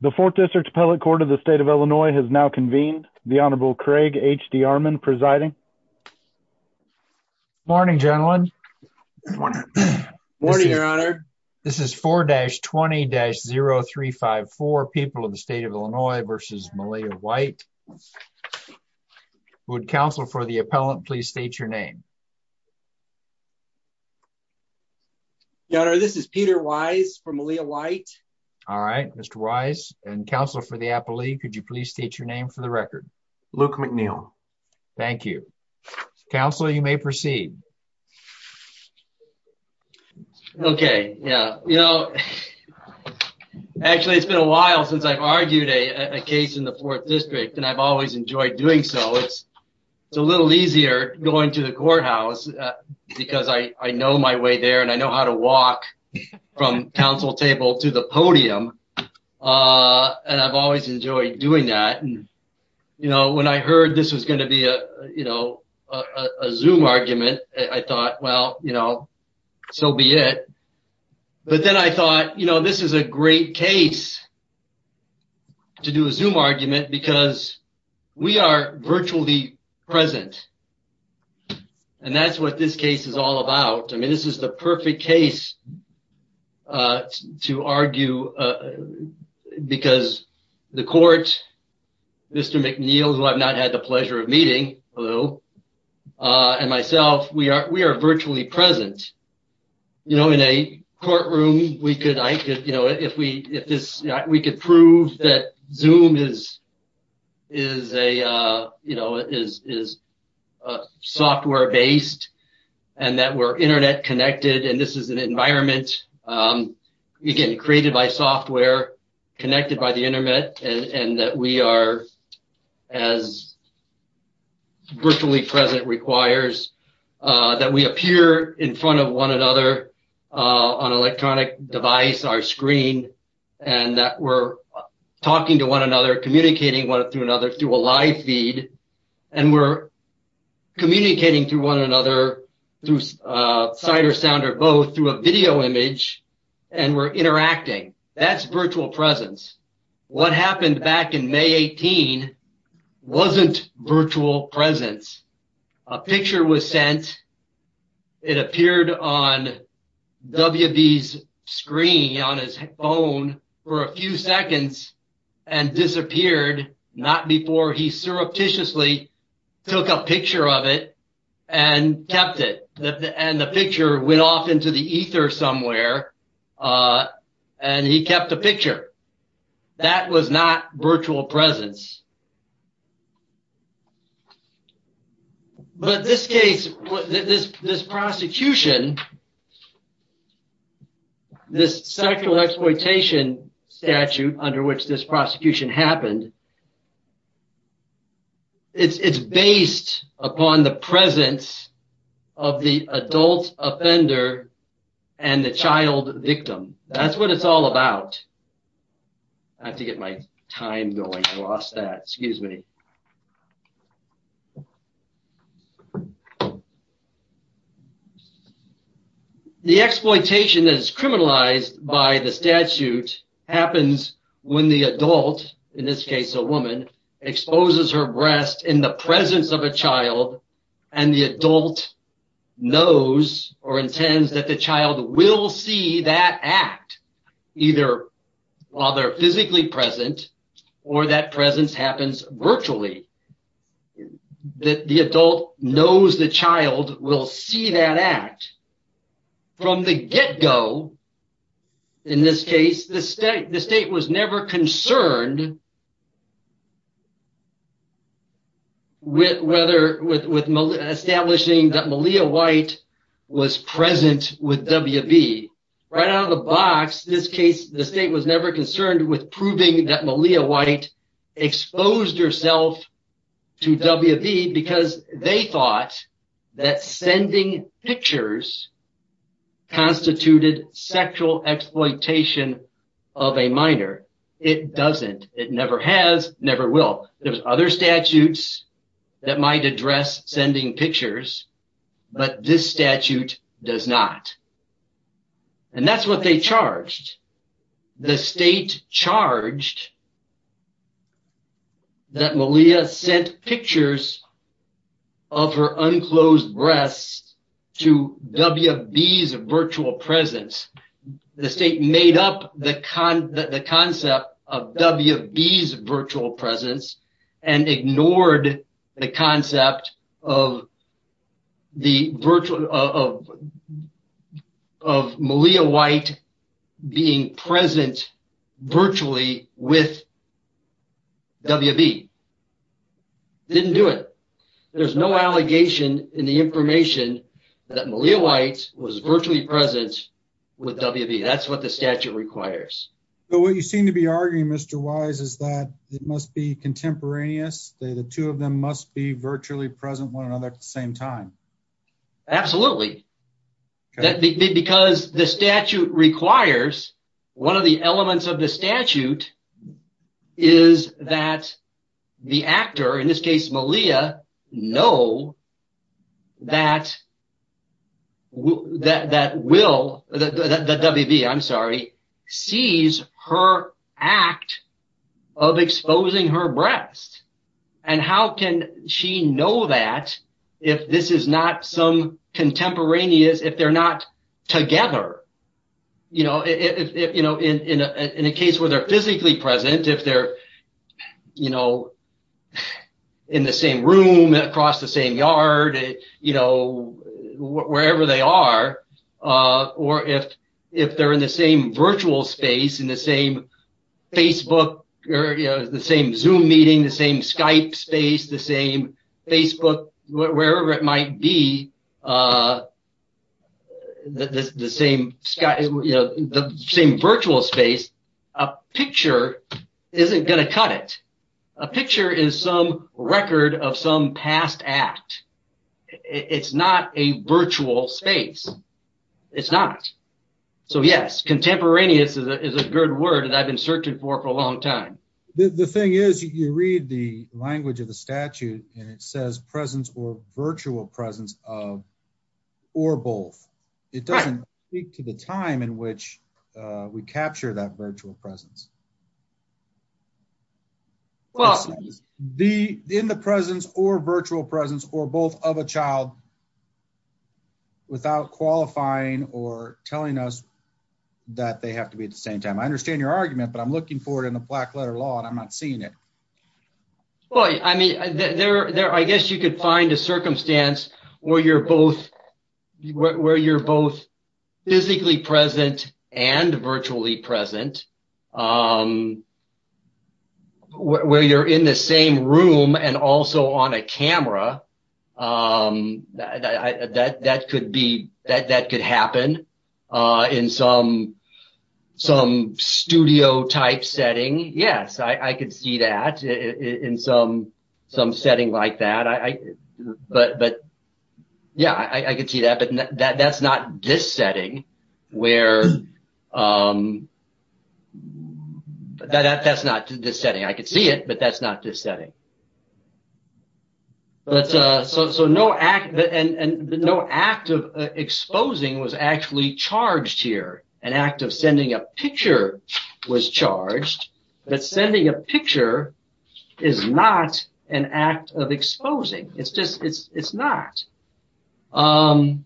the fourth district appellate court of the state of illinois has now convened the honorable craig hd armand presiding morning gentlemen good morning morning your honor this is 4-20-0354 people of the state of illinois versus malia white would counsel for the appellant please state your name your honor this is peter wise from malia white all right mr wise and counsel for the appellee could you please state your name for the record luke mcneil thank you counsel you may proceed okay yeah you know actually it's been a while since i've argued a a case in the fourth district and i've always enjoyed doing so it's a little easier going to the courthouse because i i know my way there and i know how to walk from council table to the podium uh and i've always enjoyed doing that and you know when i heard this was going to be a you know a zoom argument i thought well you know so be it but then i thought you know this is a great case to do a zoom argument because we are virtually present and that's what this case is all about i mean this is the perfect case uh to argue uh because the court mr mcneil who i've not had the pleasure of meeting hello uh and myself we are we are virtually present you know in a courtroom we could i could if we if this we could prove that zoom is is a uh you know is is a software based and that we're internet connected and this is an environment um you're getting created by software connected by the internet and and that we are as virtually present requires uh that we appear in front of one another uh on electronic device our screen and that we're talking to one another communicating one through another through a live feed and we're communicating to one another through uh sight or sound or both through a video image and we're interacting that's virtual presence what happened back in may 18 wasn't virtual presence a picture was sent it appeared on wb's screen on his phone for a few seconds and disappeared not before he surreptitiously took a picture of it and kept it and the picture went off into the ether somewhere uh and he kept the picture that was not virtual presence but this case this this prosecution this sexual exploitation statute under which this prosecution happened it's it's based upon the presence of the adult offender and the child victim that's what it's all about i have to get my time going i lost that excuse me so the exploitation that is criminalized by the statute happens when the adult in this case a woman exposes her breast in the presence of a child and the adult knows or intends that the child will see that act either while they're physically present or that presence happens virtually that the adult knows the child will see that act from the get-go in this case the state the state was never concerned with whether with with establishing that malia white was present with wb right out of the box this case the state was never concerned with proving that malia white exposed herself to wb because they thought that sending pictures constituted sexual exploitation of a minor it doesn't it never has never will there's other statutes that might address sending pictures but this statute does not and that's what they charged the state charged that malia sent pictures of her unclosed breasts to wb's virtual presence the state made up the con the concept of wb's virtual presence and ignored the concept of the virtual of of malia white being present virtually with wb didn't do it there's no allegation in the information that malia white was virtually present with wb that's what the statute requires but what you seem to be arguing mr wise is that it must be contemporaneous the two of them must be virtually present one another at the same time absolutely that because the statute requires one of the elements of the statute is that the actor in this case malia know that who that that will that wb i'm sorry sees her act of exposing her breast and how can she know that if this is not some contemporaneous if they're not together you know if you know in in a case where they're physically present if they're you know in the same room across the same yard you know wherever they are uh or if if they're in the same virtual space in the same facebook or you know the same zoom meeting the same skype space the same facebook wherever it might be uh the the same skype you a picture isn't going to cut it a picture is some record of some past act it's not a virtual space it's not so yes contemporaneous is a good word that i've been searching for for a long time the the thing is you read the language of the statute and it says presence or virtual presence of or both it doesn't speak to the time in which we capture that virtual presence well the in the presence or virtual presence or both of a child without qualifying or telling us that they have to be at the same time i understand your argument but i'm looking for it in the black letter law and i'm not seeing it well i mean they're there you could find a circumstance where you're both where you're both physically present and virtually present um where you're in the same room and also on a camera um that that could be that that could happen uh in some some studio type setting yes i i could see that in some some setting like that i i but but yeah i i could see that but that that's not this setting where um that that's not this setting i could see it but that's not this setting but uh so so no act and and no act of exposing was actually charged here an act of sending a picture was charged but sending a picture is not an act of exposing it's just it's it's not um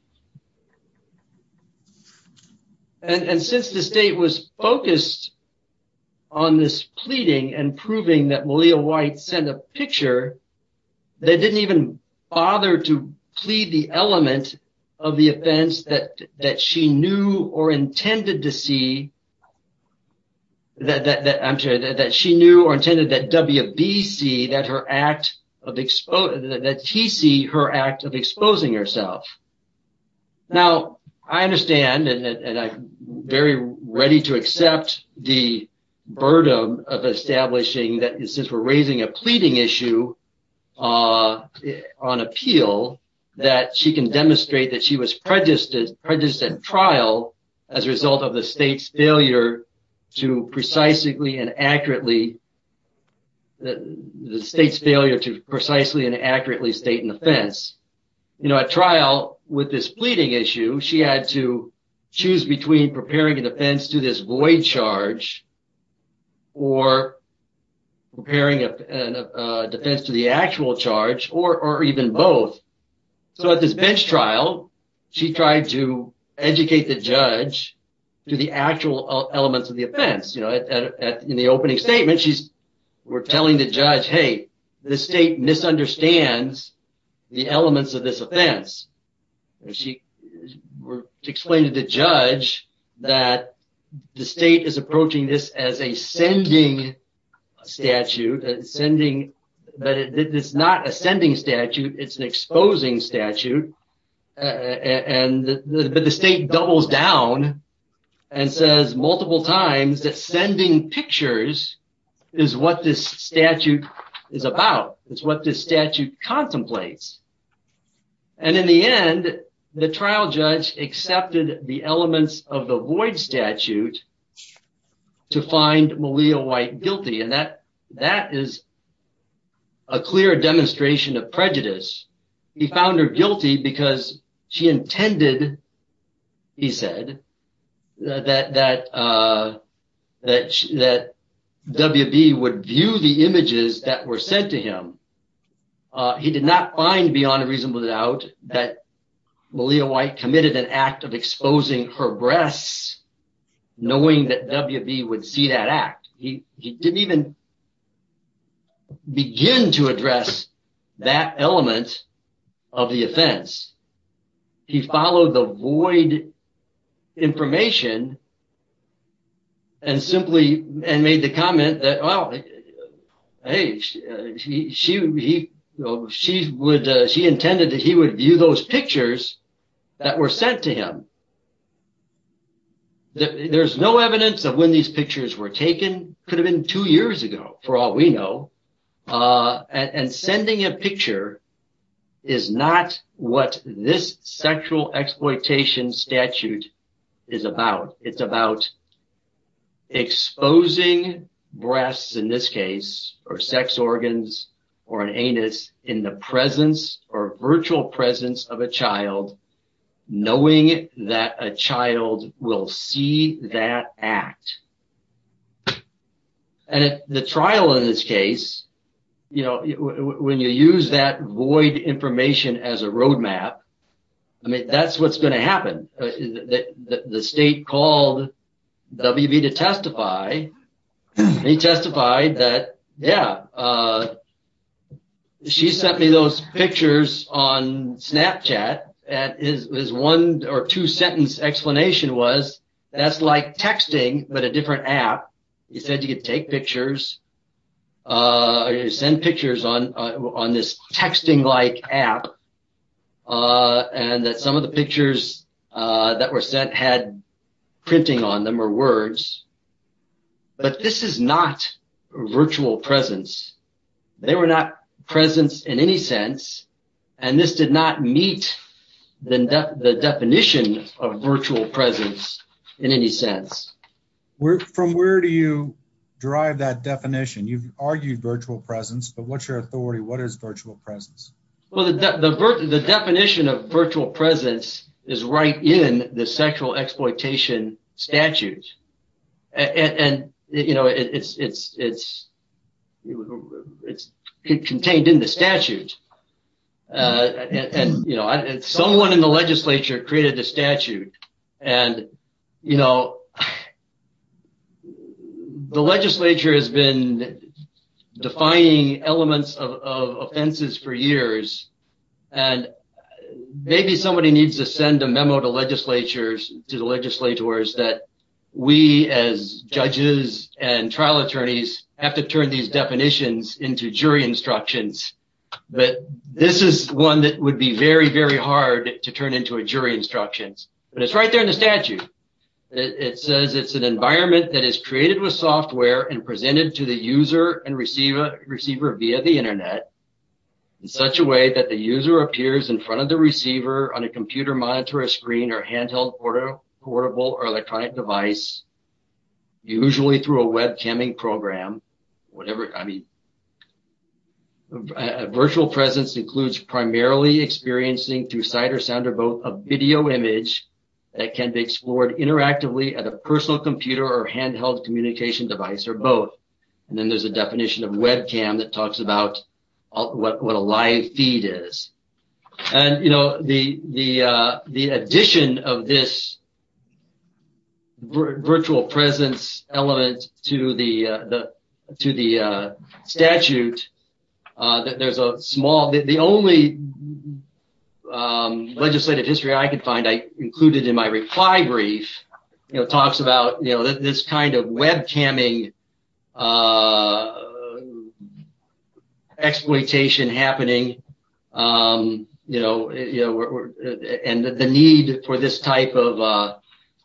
and and since the state was focused on this pleading and proving that malia white sent a picture they didn't even bother to plead the element of the offense that that she knew or that that i'm sure that she knew or intended that wbc that her act of expose that tc her act of exposing herself now i understand and i'm very ready to accept the burden of establishing that since we're raising a pleading issue uh on appeal that she can demonstrate that she was prejudiced at trial as a result of the state's failure to precisely and accurately that the state's failure to precisely and accurately state an offense you know at trial with this pleading issue she had to choose between preparing a defense to this void charge or preparing a defense to the actual charge or or even both so at this bench trial she tried to educate the judge to the actual elements of the offense you know at in the opening statement she's we're telling the judge hey the state misunderstands the elements of this offense she explained to the judge that the state is approaching this as a sending statute sending but it's not a sending statute it's an exposing statute and but the state doubles down and says multiple times that sending pictures is what this statute is about it's what this contemplates and in the end the trial judge accepted the elements of the void statute to find malia white guilty and that that is a clear demonstration of prejudice he found her guilty because she intended he said that that uh that that wb would view the images that were said to him uh he did not find beyond a reasonable doubt that malia white committed an act of exposing her breasts knowing that wb would see that act he he didn't even begin to address that element of the offense he followed the void information and simply and made the comment that well hey she she he she would she intended that he would view those pictures that were sent to him there's no evidence of when these pictures were taken could have been two years ago for all we know uh and sending a picture is not what this sexual exploitation statute is about it's about exposing breasts in this case or sex organs or an anus in the presence or virtual presence of a child knowing that a child will see that act and the trial in this case you know when you use that void information as a roadmap i mean that's what's going to happen the state called wb to testify he testified that yeah uh she sent me those pictures on snapchat and his one or two sentence explanation was that's like texting but a different app he said you could take pictures uh you send pictures on on this texting like app uh and that some of the pictures uh that were sent had printing on them or words but this is not virtual presence they were not presence in any sense and this did not meet the definition of virtual presence in any sense where from where do you derive that definition you've argued virtual presence but what's your authority what is virtual presence well the the the definition of virtual presence is right in the sexual exploitation statute and and you know it's it's it's it's contained in the statute uh and you know someone in the legislature created the statute and you know uh the legislature has been defying elements of offenses for years and maybe somebody needs to send a memo to legislatures to the legislators that we as judges and trial attorneys have to turn these definitions into jury instructions but this is one that would be very very hard to turn into a jury instructions but it's right there in the statute it says it's an environment that is created with software and presented to the user and receive a receiver via the internet in such a way that the user appears in front of the receiver on a computer monitor a screen or handheld portable or electronic device usually through a web camming program whatever i mean a virtual presence includes primarily experiencing through sight or sound or both a video image that can be explored interactively at a personal computer or handheld communication device or both and then there's a definition of webcam that talks about what a live feed is and you know the the uh of this virtual presence element to the uh the to the uh statute uh there's a small the only um legislative history i could find i included in my reply brief you know talks about you know this kind of web camming uh happening um you know you know and the need for this type of uh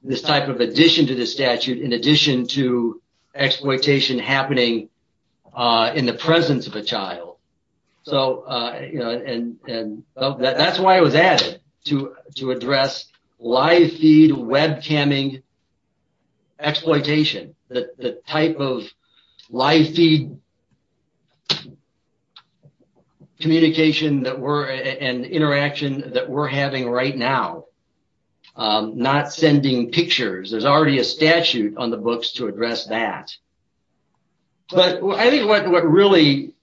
this type of addition to the statute in addition to exploitation happening uh in the presence of a child so uh you know and and that's why i was added to to address live feed web camming exploitation the the type of live feed communication that we're and interaction that we're having right now um not sending pictures there's already a statute on the books to address that but i think what really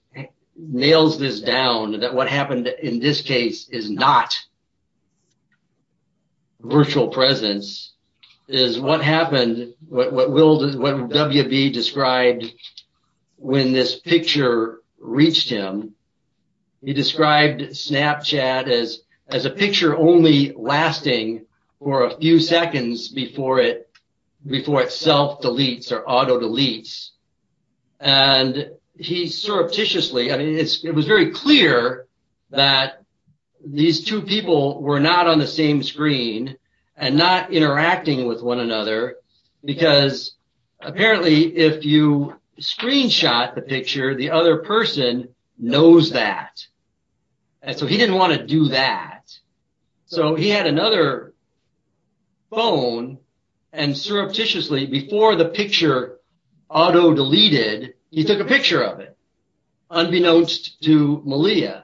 nails this down that what happened in this case is not virtual presence is what happened what will what wb described when this picture reached him he described snapchat as as a picture only lasting for a few seconds before it before it self deletes or auto deletes and he surreptitiously i mean it's it was very clear that these two people were not on the same screen and not interacting with one another because apparently if you screenshot the picture the other person knows that and so he didn't want to do that so he had another phone and surreptitiously before the picture auto deleted he took a picture of it unbeknownst to malia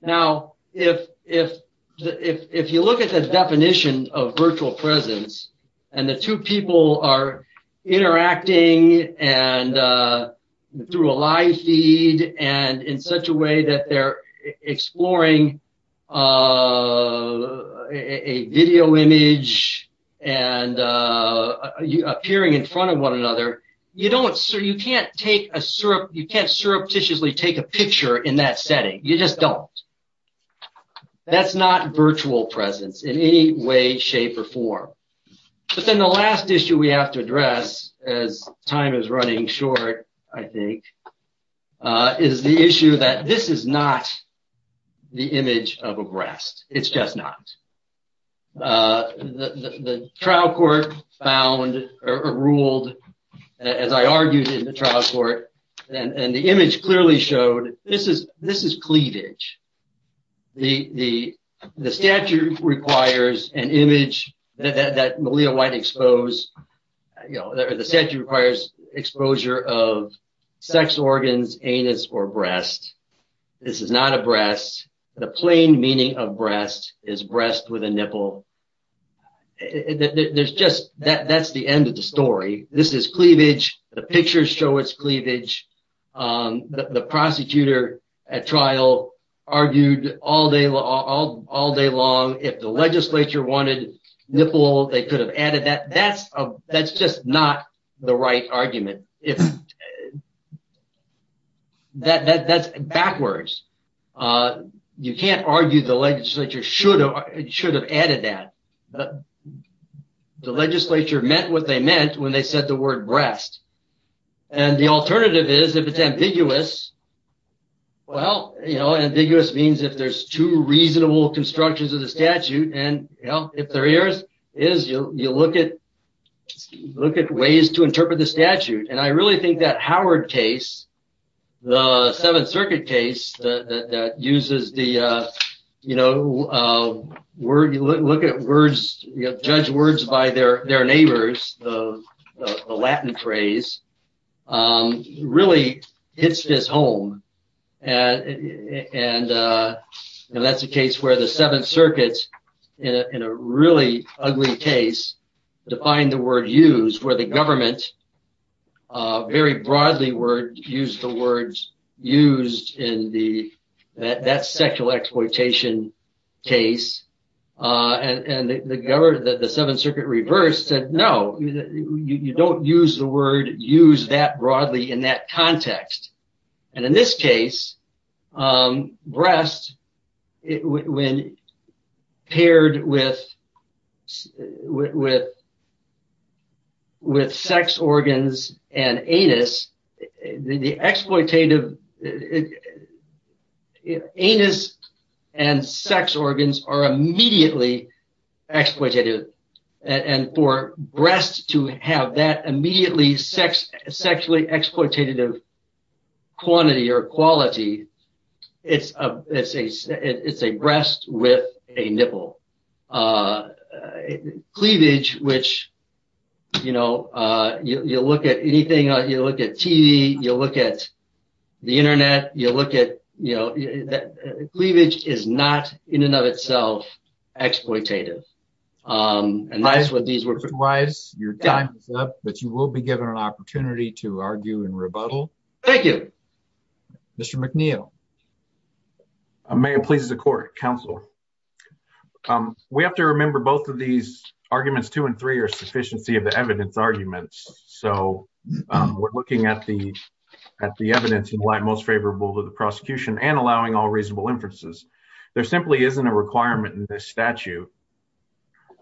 now if if if if you look at the definition of virtual presence and the two people are interacting and uh through a live feed and in such a way that they're exploring uh a video image and uh you appearing in front of another you don't so you can't take a syrup you can't surreptitiously take a picture in that setting you just don't that's not virtual presence in any way shape or form but then the last issue we have to address as time is running short i think uh is the issue that this is not the image of a breast it's just not uh the the trial court found or ruled as i argued in the trial court and and the image clearly showed this is this is cleavage the the the statute requires an image that that malia white exposed you know the statute requires exposure of sex organs anus or breast this is not a breast the plain meaning of breast is breast with a nipple there's just that that's the end of the story this is cleavage the pictures show its cleavage um the prosecutor at trial argued all day all all day long if the legislature wanted nipple they could have added that that's a that's just not the right argument if uh that that's backwards uh you can't argue the legislature should have should have added that but the legislature meant what they meant when they said the word breast and the alternative is if it's ambiguous well you know ambiguous means if there's two reasonable constructions of the statute and you know if there is is you you look at look at ways to interpret the statute and i really think that howard case the seventh circuit case that uses the uh you know uh word you look at words you know judge words by their their neighbors the the latin phrase um really hits this home and and uh and that's a case where the seventh circuit in a really ugly case to find the word used where the government uh very broadly word used the words used in the that sexual exploitation case uh and and the governor that the seventh circuit reversed said no you don't use the word use that broadly in that context and in this case um breast when paired with with with sex organs and anus the exploitative anus and sex organs are immediately exploitative and for breast to have that immediately sex quantity or quality it's a it's a it's a breast with a nipple uh cleavage which you know uh you you look at anything you look at tv you look at the internet you look at you know that cleavage is not in and of itself exploitative um and that's what these were wise your time is up you will be given an opportunity to argue in rebuttal thank you mr mcneil may it pleases the court counsel um we have to remember both of these arguments two and three are sufficiency of the evidence arguments so um we're looking at the at the evidence in line most favorable to the prosecution and allowing all reasonable inferences there simply isn't a requirement in this statute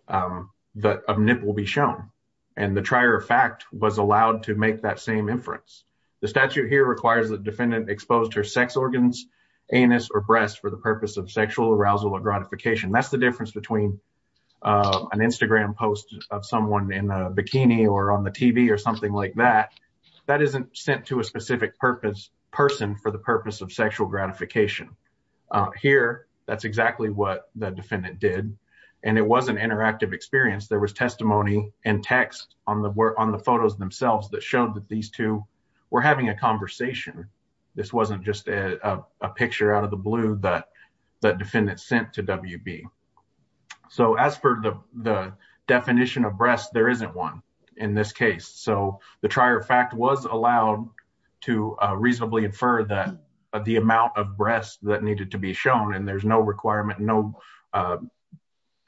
um that a nipple be shown and the trier of fact was allowed to make that same inference the statute here requires the defendant exposed her sex organs anus or breast for the purpose of sexual arousal or gratification that's the difference between uh an instagram post of someone in a bikini or on the tv or something like that that isn't sent to a specific purpose person for the purpose of sexual gratification here that's exactly what the defendant did and it was an interactive experience there was testimony and text on the work on the photos themselves that showed that these two were having a conversation this wasn't just a a picture out of the blue that the defendant sent to wb so as per the the definition of breast there isn't one in this case so the trier of fact was allowed to uh reasonably infer that the amount of breasts that needed to be shown and there's no requirement no uh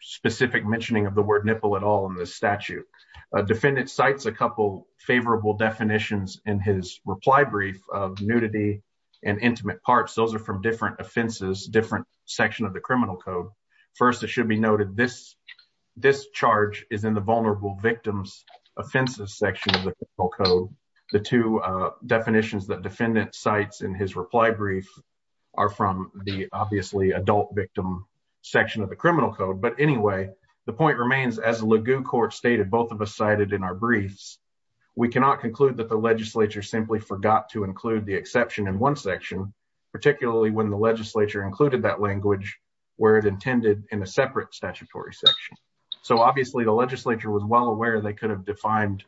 specific mentioning of the word nipple at all in this statute a defendant cites a couple favorable definitions in his reply brief of nudity and intimate parts those are from different offenses different section of the criminal code first it should be noted this this charge is in the vulnerable victims offenses section of the code the two uh definitions that defendant cites in his reply brief are from the obviously adult victim section of the criminal code but anyway the point remains as lagoo court stated both of us cited in our briefs we cannot conclude that the legislature simply forgot to include the exception in one section particularly when the legislature included that language where it intended in a separate statutory section so obviously the legislature was well aware they could have defined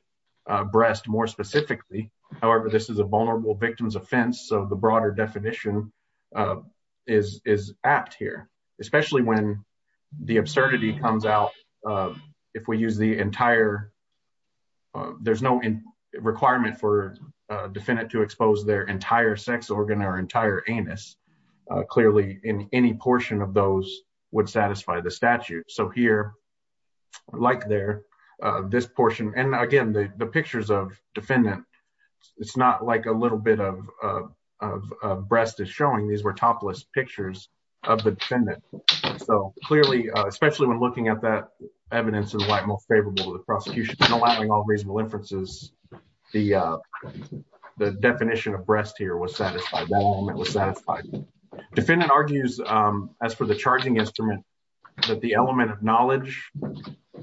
breast more specifically however this is a vulnerable victim's offense of the broader definition uh is is apt here especially when the absurdity comes out if we use the entire uh there's no requirement for a defendant to expose their entire sex organ or entire anus clearly in any portion of those would satisfy the statute so here like there uh this portion and again the the pictures of defendant it's not like a little bit of of breast is showing these were topless pictures of the defendant so clearly especially when looking at that evidence is most favorable to the prosecution and allowing all reasonable inferences the uh the definition of breast here was satisfied that moment was satisfied defendant argues um as for the charging instrument that the element of knowledge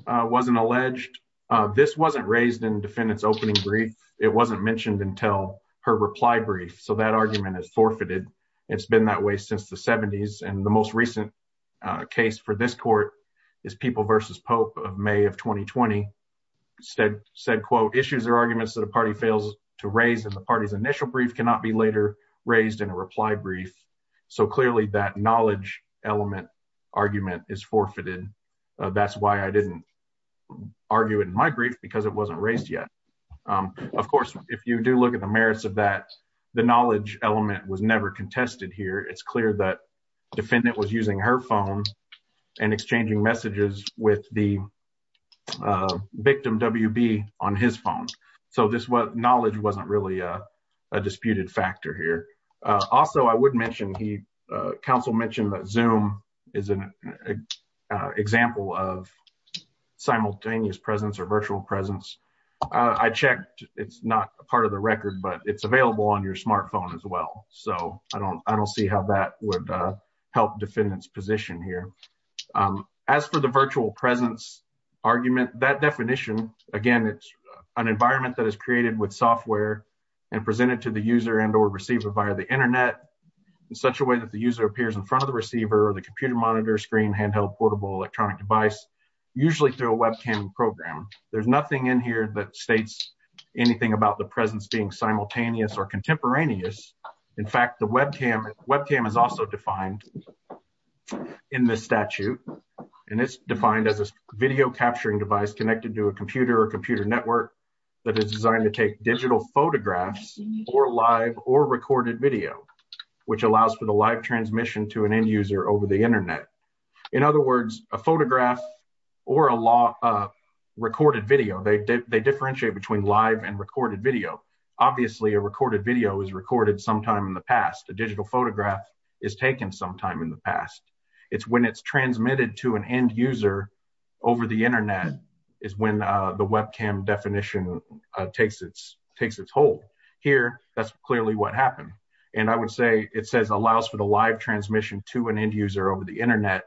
uh wasn't alleged uh this wasn't raised in defendant's opening brief it wasn't mentioned until her reply brief so that argument is forfeited it's been that way since the 70s and the most recent uh case for this court is people versus pope of may of 2020 said said quote issues or arguments that a party fails to raise and the party's initial brief cannot be later raised in a reply brief so clearly that knowledge element argument is forfeited that's why i didn't argue it in my brief because it wasn't raised yet um of course if you do look at the merits of that the knowledge element was never contested here it's clear that defendant was using her phone and exchanging messages with the uh victim wb on his phone so this was knowledge wasn't really a disputed factor here uh also i would mention he uh council mentioned that zoom is an example of simultaneous presence or virtual presence i checked it's not part of the record but it's available on your smartphone as well so i don't i don't see how that would uh help defendant's position here um as for the virtual presence argument that definition again it's an environment that is created with software and presented to the user and or receiver via the internet in such a way that the user appears in front of the receiver or the computer monitor screen handheld portable electronic device usually through a webcam program there's nothing in here that states anything about the presence being simultaneous or contemporaneous in fact the webcam webcam is also defined in this statute and it's defined as a video capturing device connected to a computer or computer network that is designed to take digital photographs or live or recorded video which allows for the live transmission to an over the internet in other words a photograph or a lot of recorded video they they differentiate between live and recorded video obviously a recorded video is recorded sometime in the past a digital photograph is taken sometime in the past it's when it's transmitted to an end user over the internet is when uh the webcam definition uh takes its takes its hold here that's clearly what happened and i would say it says allows for the live transmission to an end user over the internet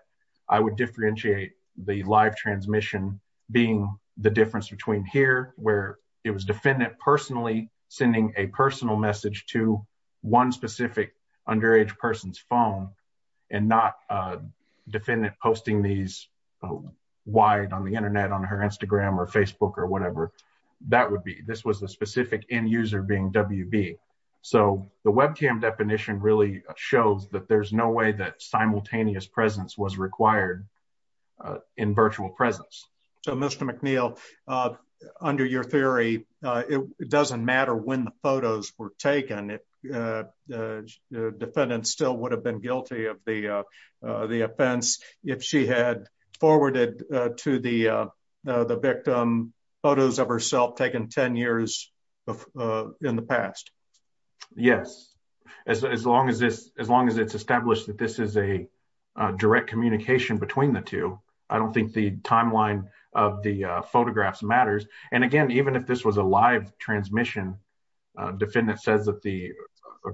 i would differentiate the live transmission being the difference between here where it was defendant personally sending a personal message to one specific underage person's phone and not a defendant posting these wide on the internet on her instagram or facebook or that would be this was the specific end user being wb so the webcam definition really shows that there's no way that simultaneous presence was required in virtual presence so mr mcneil uh under your theory uh it doesn't matter when the photos were taken if uh the defendant still would have been guilty of the uh the offense if she had forwarded uh to the uh the victim photos of herself taken 10 years uh in the past yes as as long as this as long as it's established that this is a direct communication between the two i don't think the timeline of the photographs matters and again even if this was a live transmission uh defendant says that the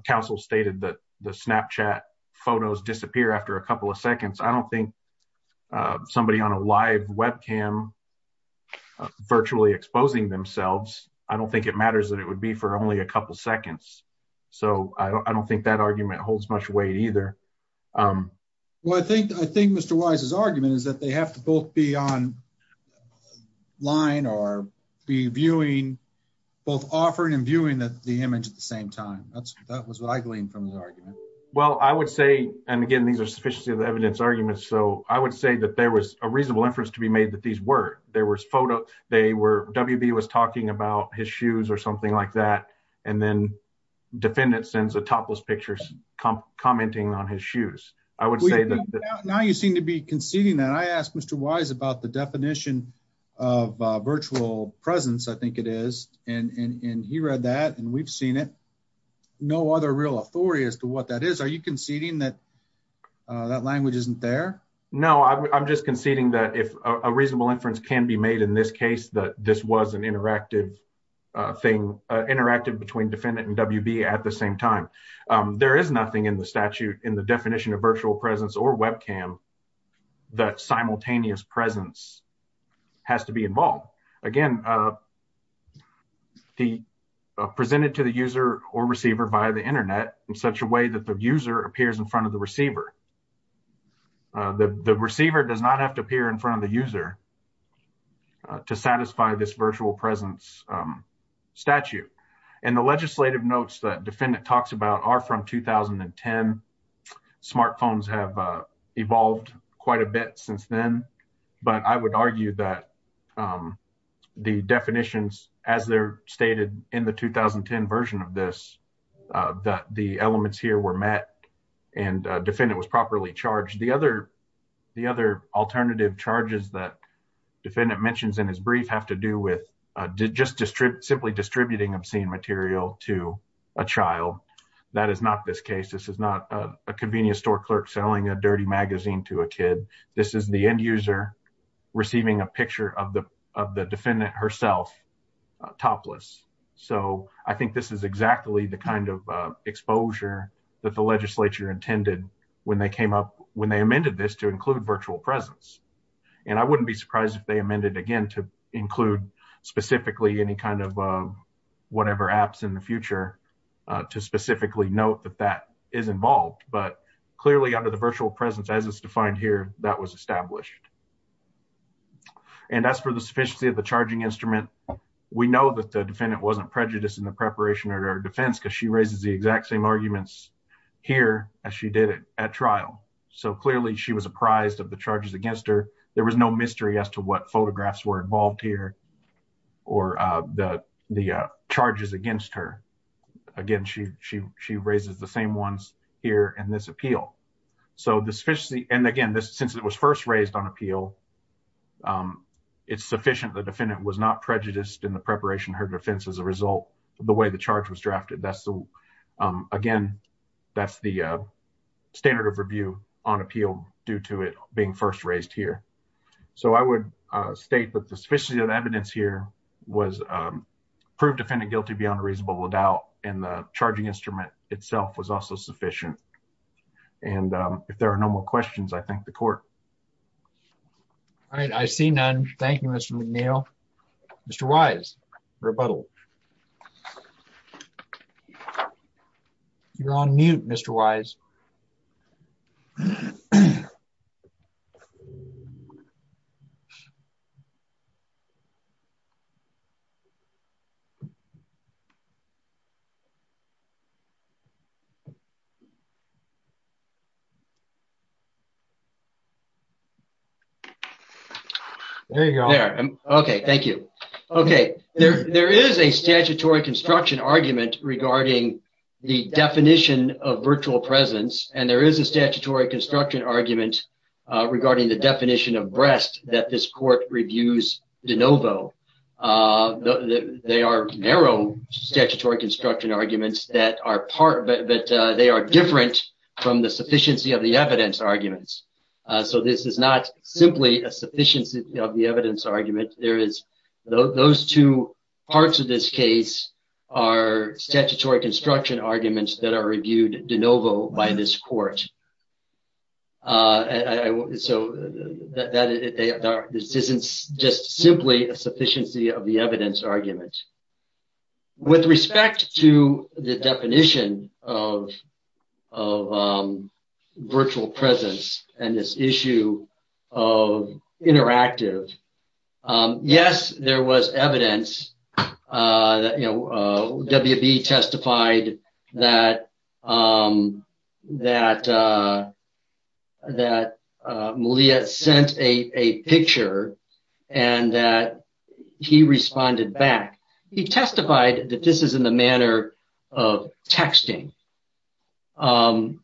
counsel stated that the snapchat photos disappear after a couple of seconds i don't think uh somebody on a live webcam virtually exposing themselves i don't think it matters that it would be for only a couple seconds so i don't think that argument holds much weight either um well i think i think mr wise's argument is that they have to both be on line or be viewing both offering and viewing the image at the same time that's that was what i gleaned from his argument so i would say that there was a reasonable inference to be made that these were there was photo they were wb was talking about his shoes or something like that and then defendant sends a topless picture commenting on his shoes i would say that now you seem to be conceding that i asked mr wise about the definition of virtual presence i think it is and and he read that and we've seen it no other real authority as to what that is are you conceding that that language isn't there no i'm just conceding that if a reasonable inference can be made in this case that this was an interactive uh thing uh interactive between defendant and wb at the same time um there is nothing in the statute in the definition of virtual presence or webcam that simultaneous presence has to be involved again uh he presented to the user or receiver via the internet in such a way that the user appears in front of the receiver the the receiver does not have to appear in front of the user to satisfy this virtual presence statute and the legislative notes that defendant talks about are from 2010 smartphones have evolved quite a bit since then but i would argue that the definitions as they're stated in the 2010 version of this uh that the elements here were met and defendant was properly charged the other the other alternative charges that defendant mentions in his brief have to do with uh just distribute simply distributing obscene material to a child that is not this case this is not a convenience store clerk selling a dirty magazine to a kid this is the end user receiving a picture of the of the defendant herself topless so i think this is exactly the kind of uh exposure that the legislature intended when they came up when they amended this to include virtual presence and i wouldn't be surprised if they amended again to include specifically any kind of uh whatever apps in the future uh to specifically note that that is involved but clearly under the sufficiency of the charging instrument we know that the defendant wasn't prejudiced in the preparation or defense because she raises the exact same arguments here as she did it at trial so clearly she was apprised of the charges against her there was no mystery as to what photographs were involved here or uh the the uh charges against her again she she she raises the same ones here in this appeal so the sufficiency and again this since it was first raised on appeal um it's sufficient the defendant was not prejudiced in the preparation her defense as a result the way the charge was drafted that's the um again that's the uh standard of review on appeal due to it being first raised here so i would uh state that the sufficiency of evidence here was um proved defendant guilty beyond a reasonable doubt and the charging instrument itself was also sufficient and um if there are no more questions i thank the court all right i see none thank you mr mcneil mr wise rebuttal you're on mute mr wise you there you go there okay thank you okay there there is a statutory construction argument regarding the definition of virtual presence and there is a statutory construction argument regarding the definition of breast that this court reviews de novo uh they are narrow statutory construction arguments that are part but they are different from the sufficiency of the evidence arguments so this is not simply a sufficiency of the evidence argument there is those two parts of this case are statutory construction arguments that are reviewed de novo by this court uh so that this isn't just simply a sufficiency of the evidence argument with respect to the definition of of um virtual presence and this issue of interactive um yes there was evidence uh that you know uh wb testified that um that uh that uh sent a a picture and that he responded back he testified that this is in the manner of texting um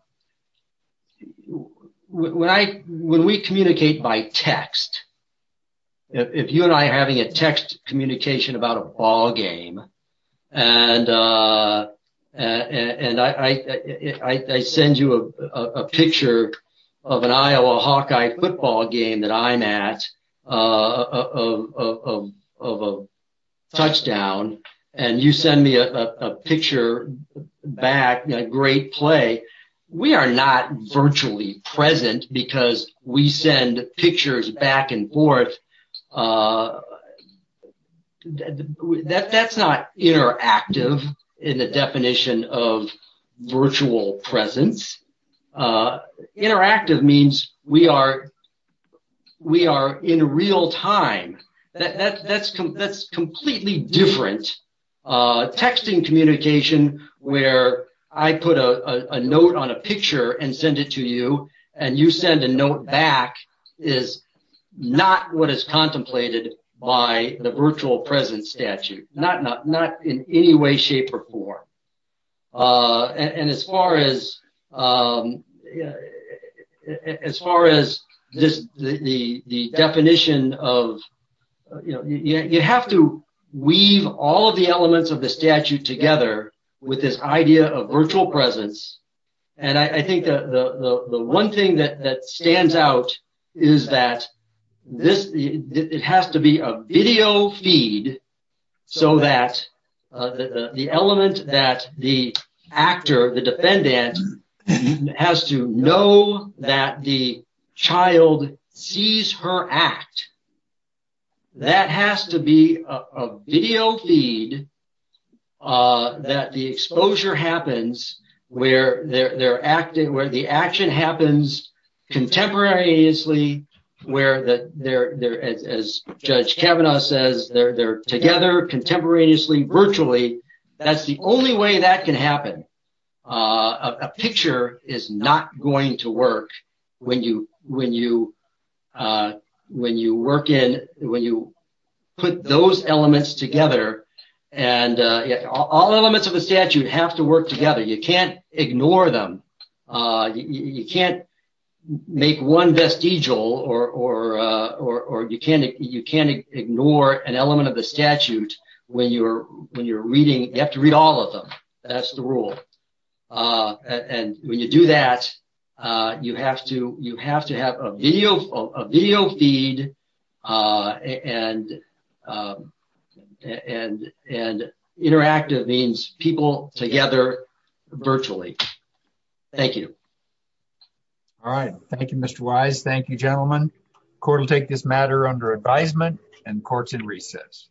when i when we communicate by text if you and i having a text communication about a ball game and uh and and i i i send you a a picture of an iowa hawkeye football game that i'm at uh of of of a touchdown and you send me a a picture back a great play we are not virtually present because we send pictures back and forth uh uh that that's not interactive in the definition of virtual presence uh interactive means we are we are in real time that that's that's completely different uh texting communication where i put a a note on a picture and send it to you and you send a note back is not what is contemplated by the virtual presence statute not not not in any way shape or form uh and as far as um as far as this the the definition of you know you have to weave all the elements of the statute together with this idea of virtual presence and i i think the the the thing that that stands out is that this it has to be a video feed so that uh the the element that the actor the defendant has to know that the child sees her act that has to be a video feed uh that the exposure happens where they're they're acting where the action happens contemporaneously where that they're they're as judge kavanaugh says they're they're together contemporaneously virtually that's the only way that can happen uh a picture is not going to work when you when you uh when you work in when you put those elements together and uh all elements of the statute have to work together you can't ignore them uh you can't make one vestigial or or uh or or you can't you can't ignore an element of the statute when you're when you're reading you have to read all of them that's the rule uh and when you do that uh you have to you have to have a video a video feed uh and uh and and interactive means people together virtually thank you all right thank you mr wise thank you gentlemen court will take this matter under advisement and courts in recess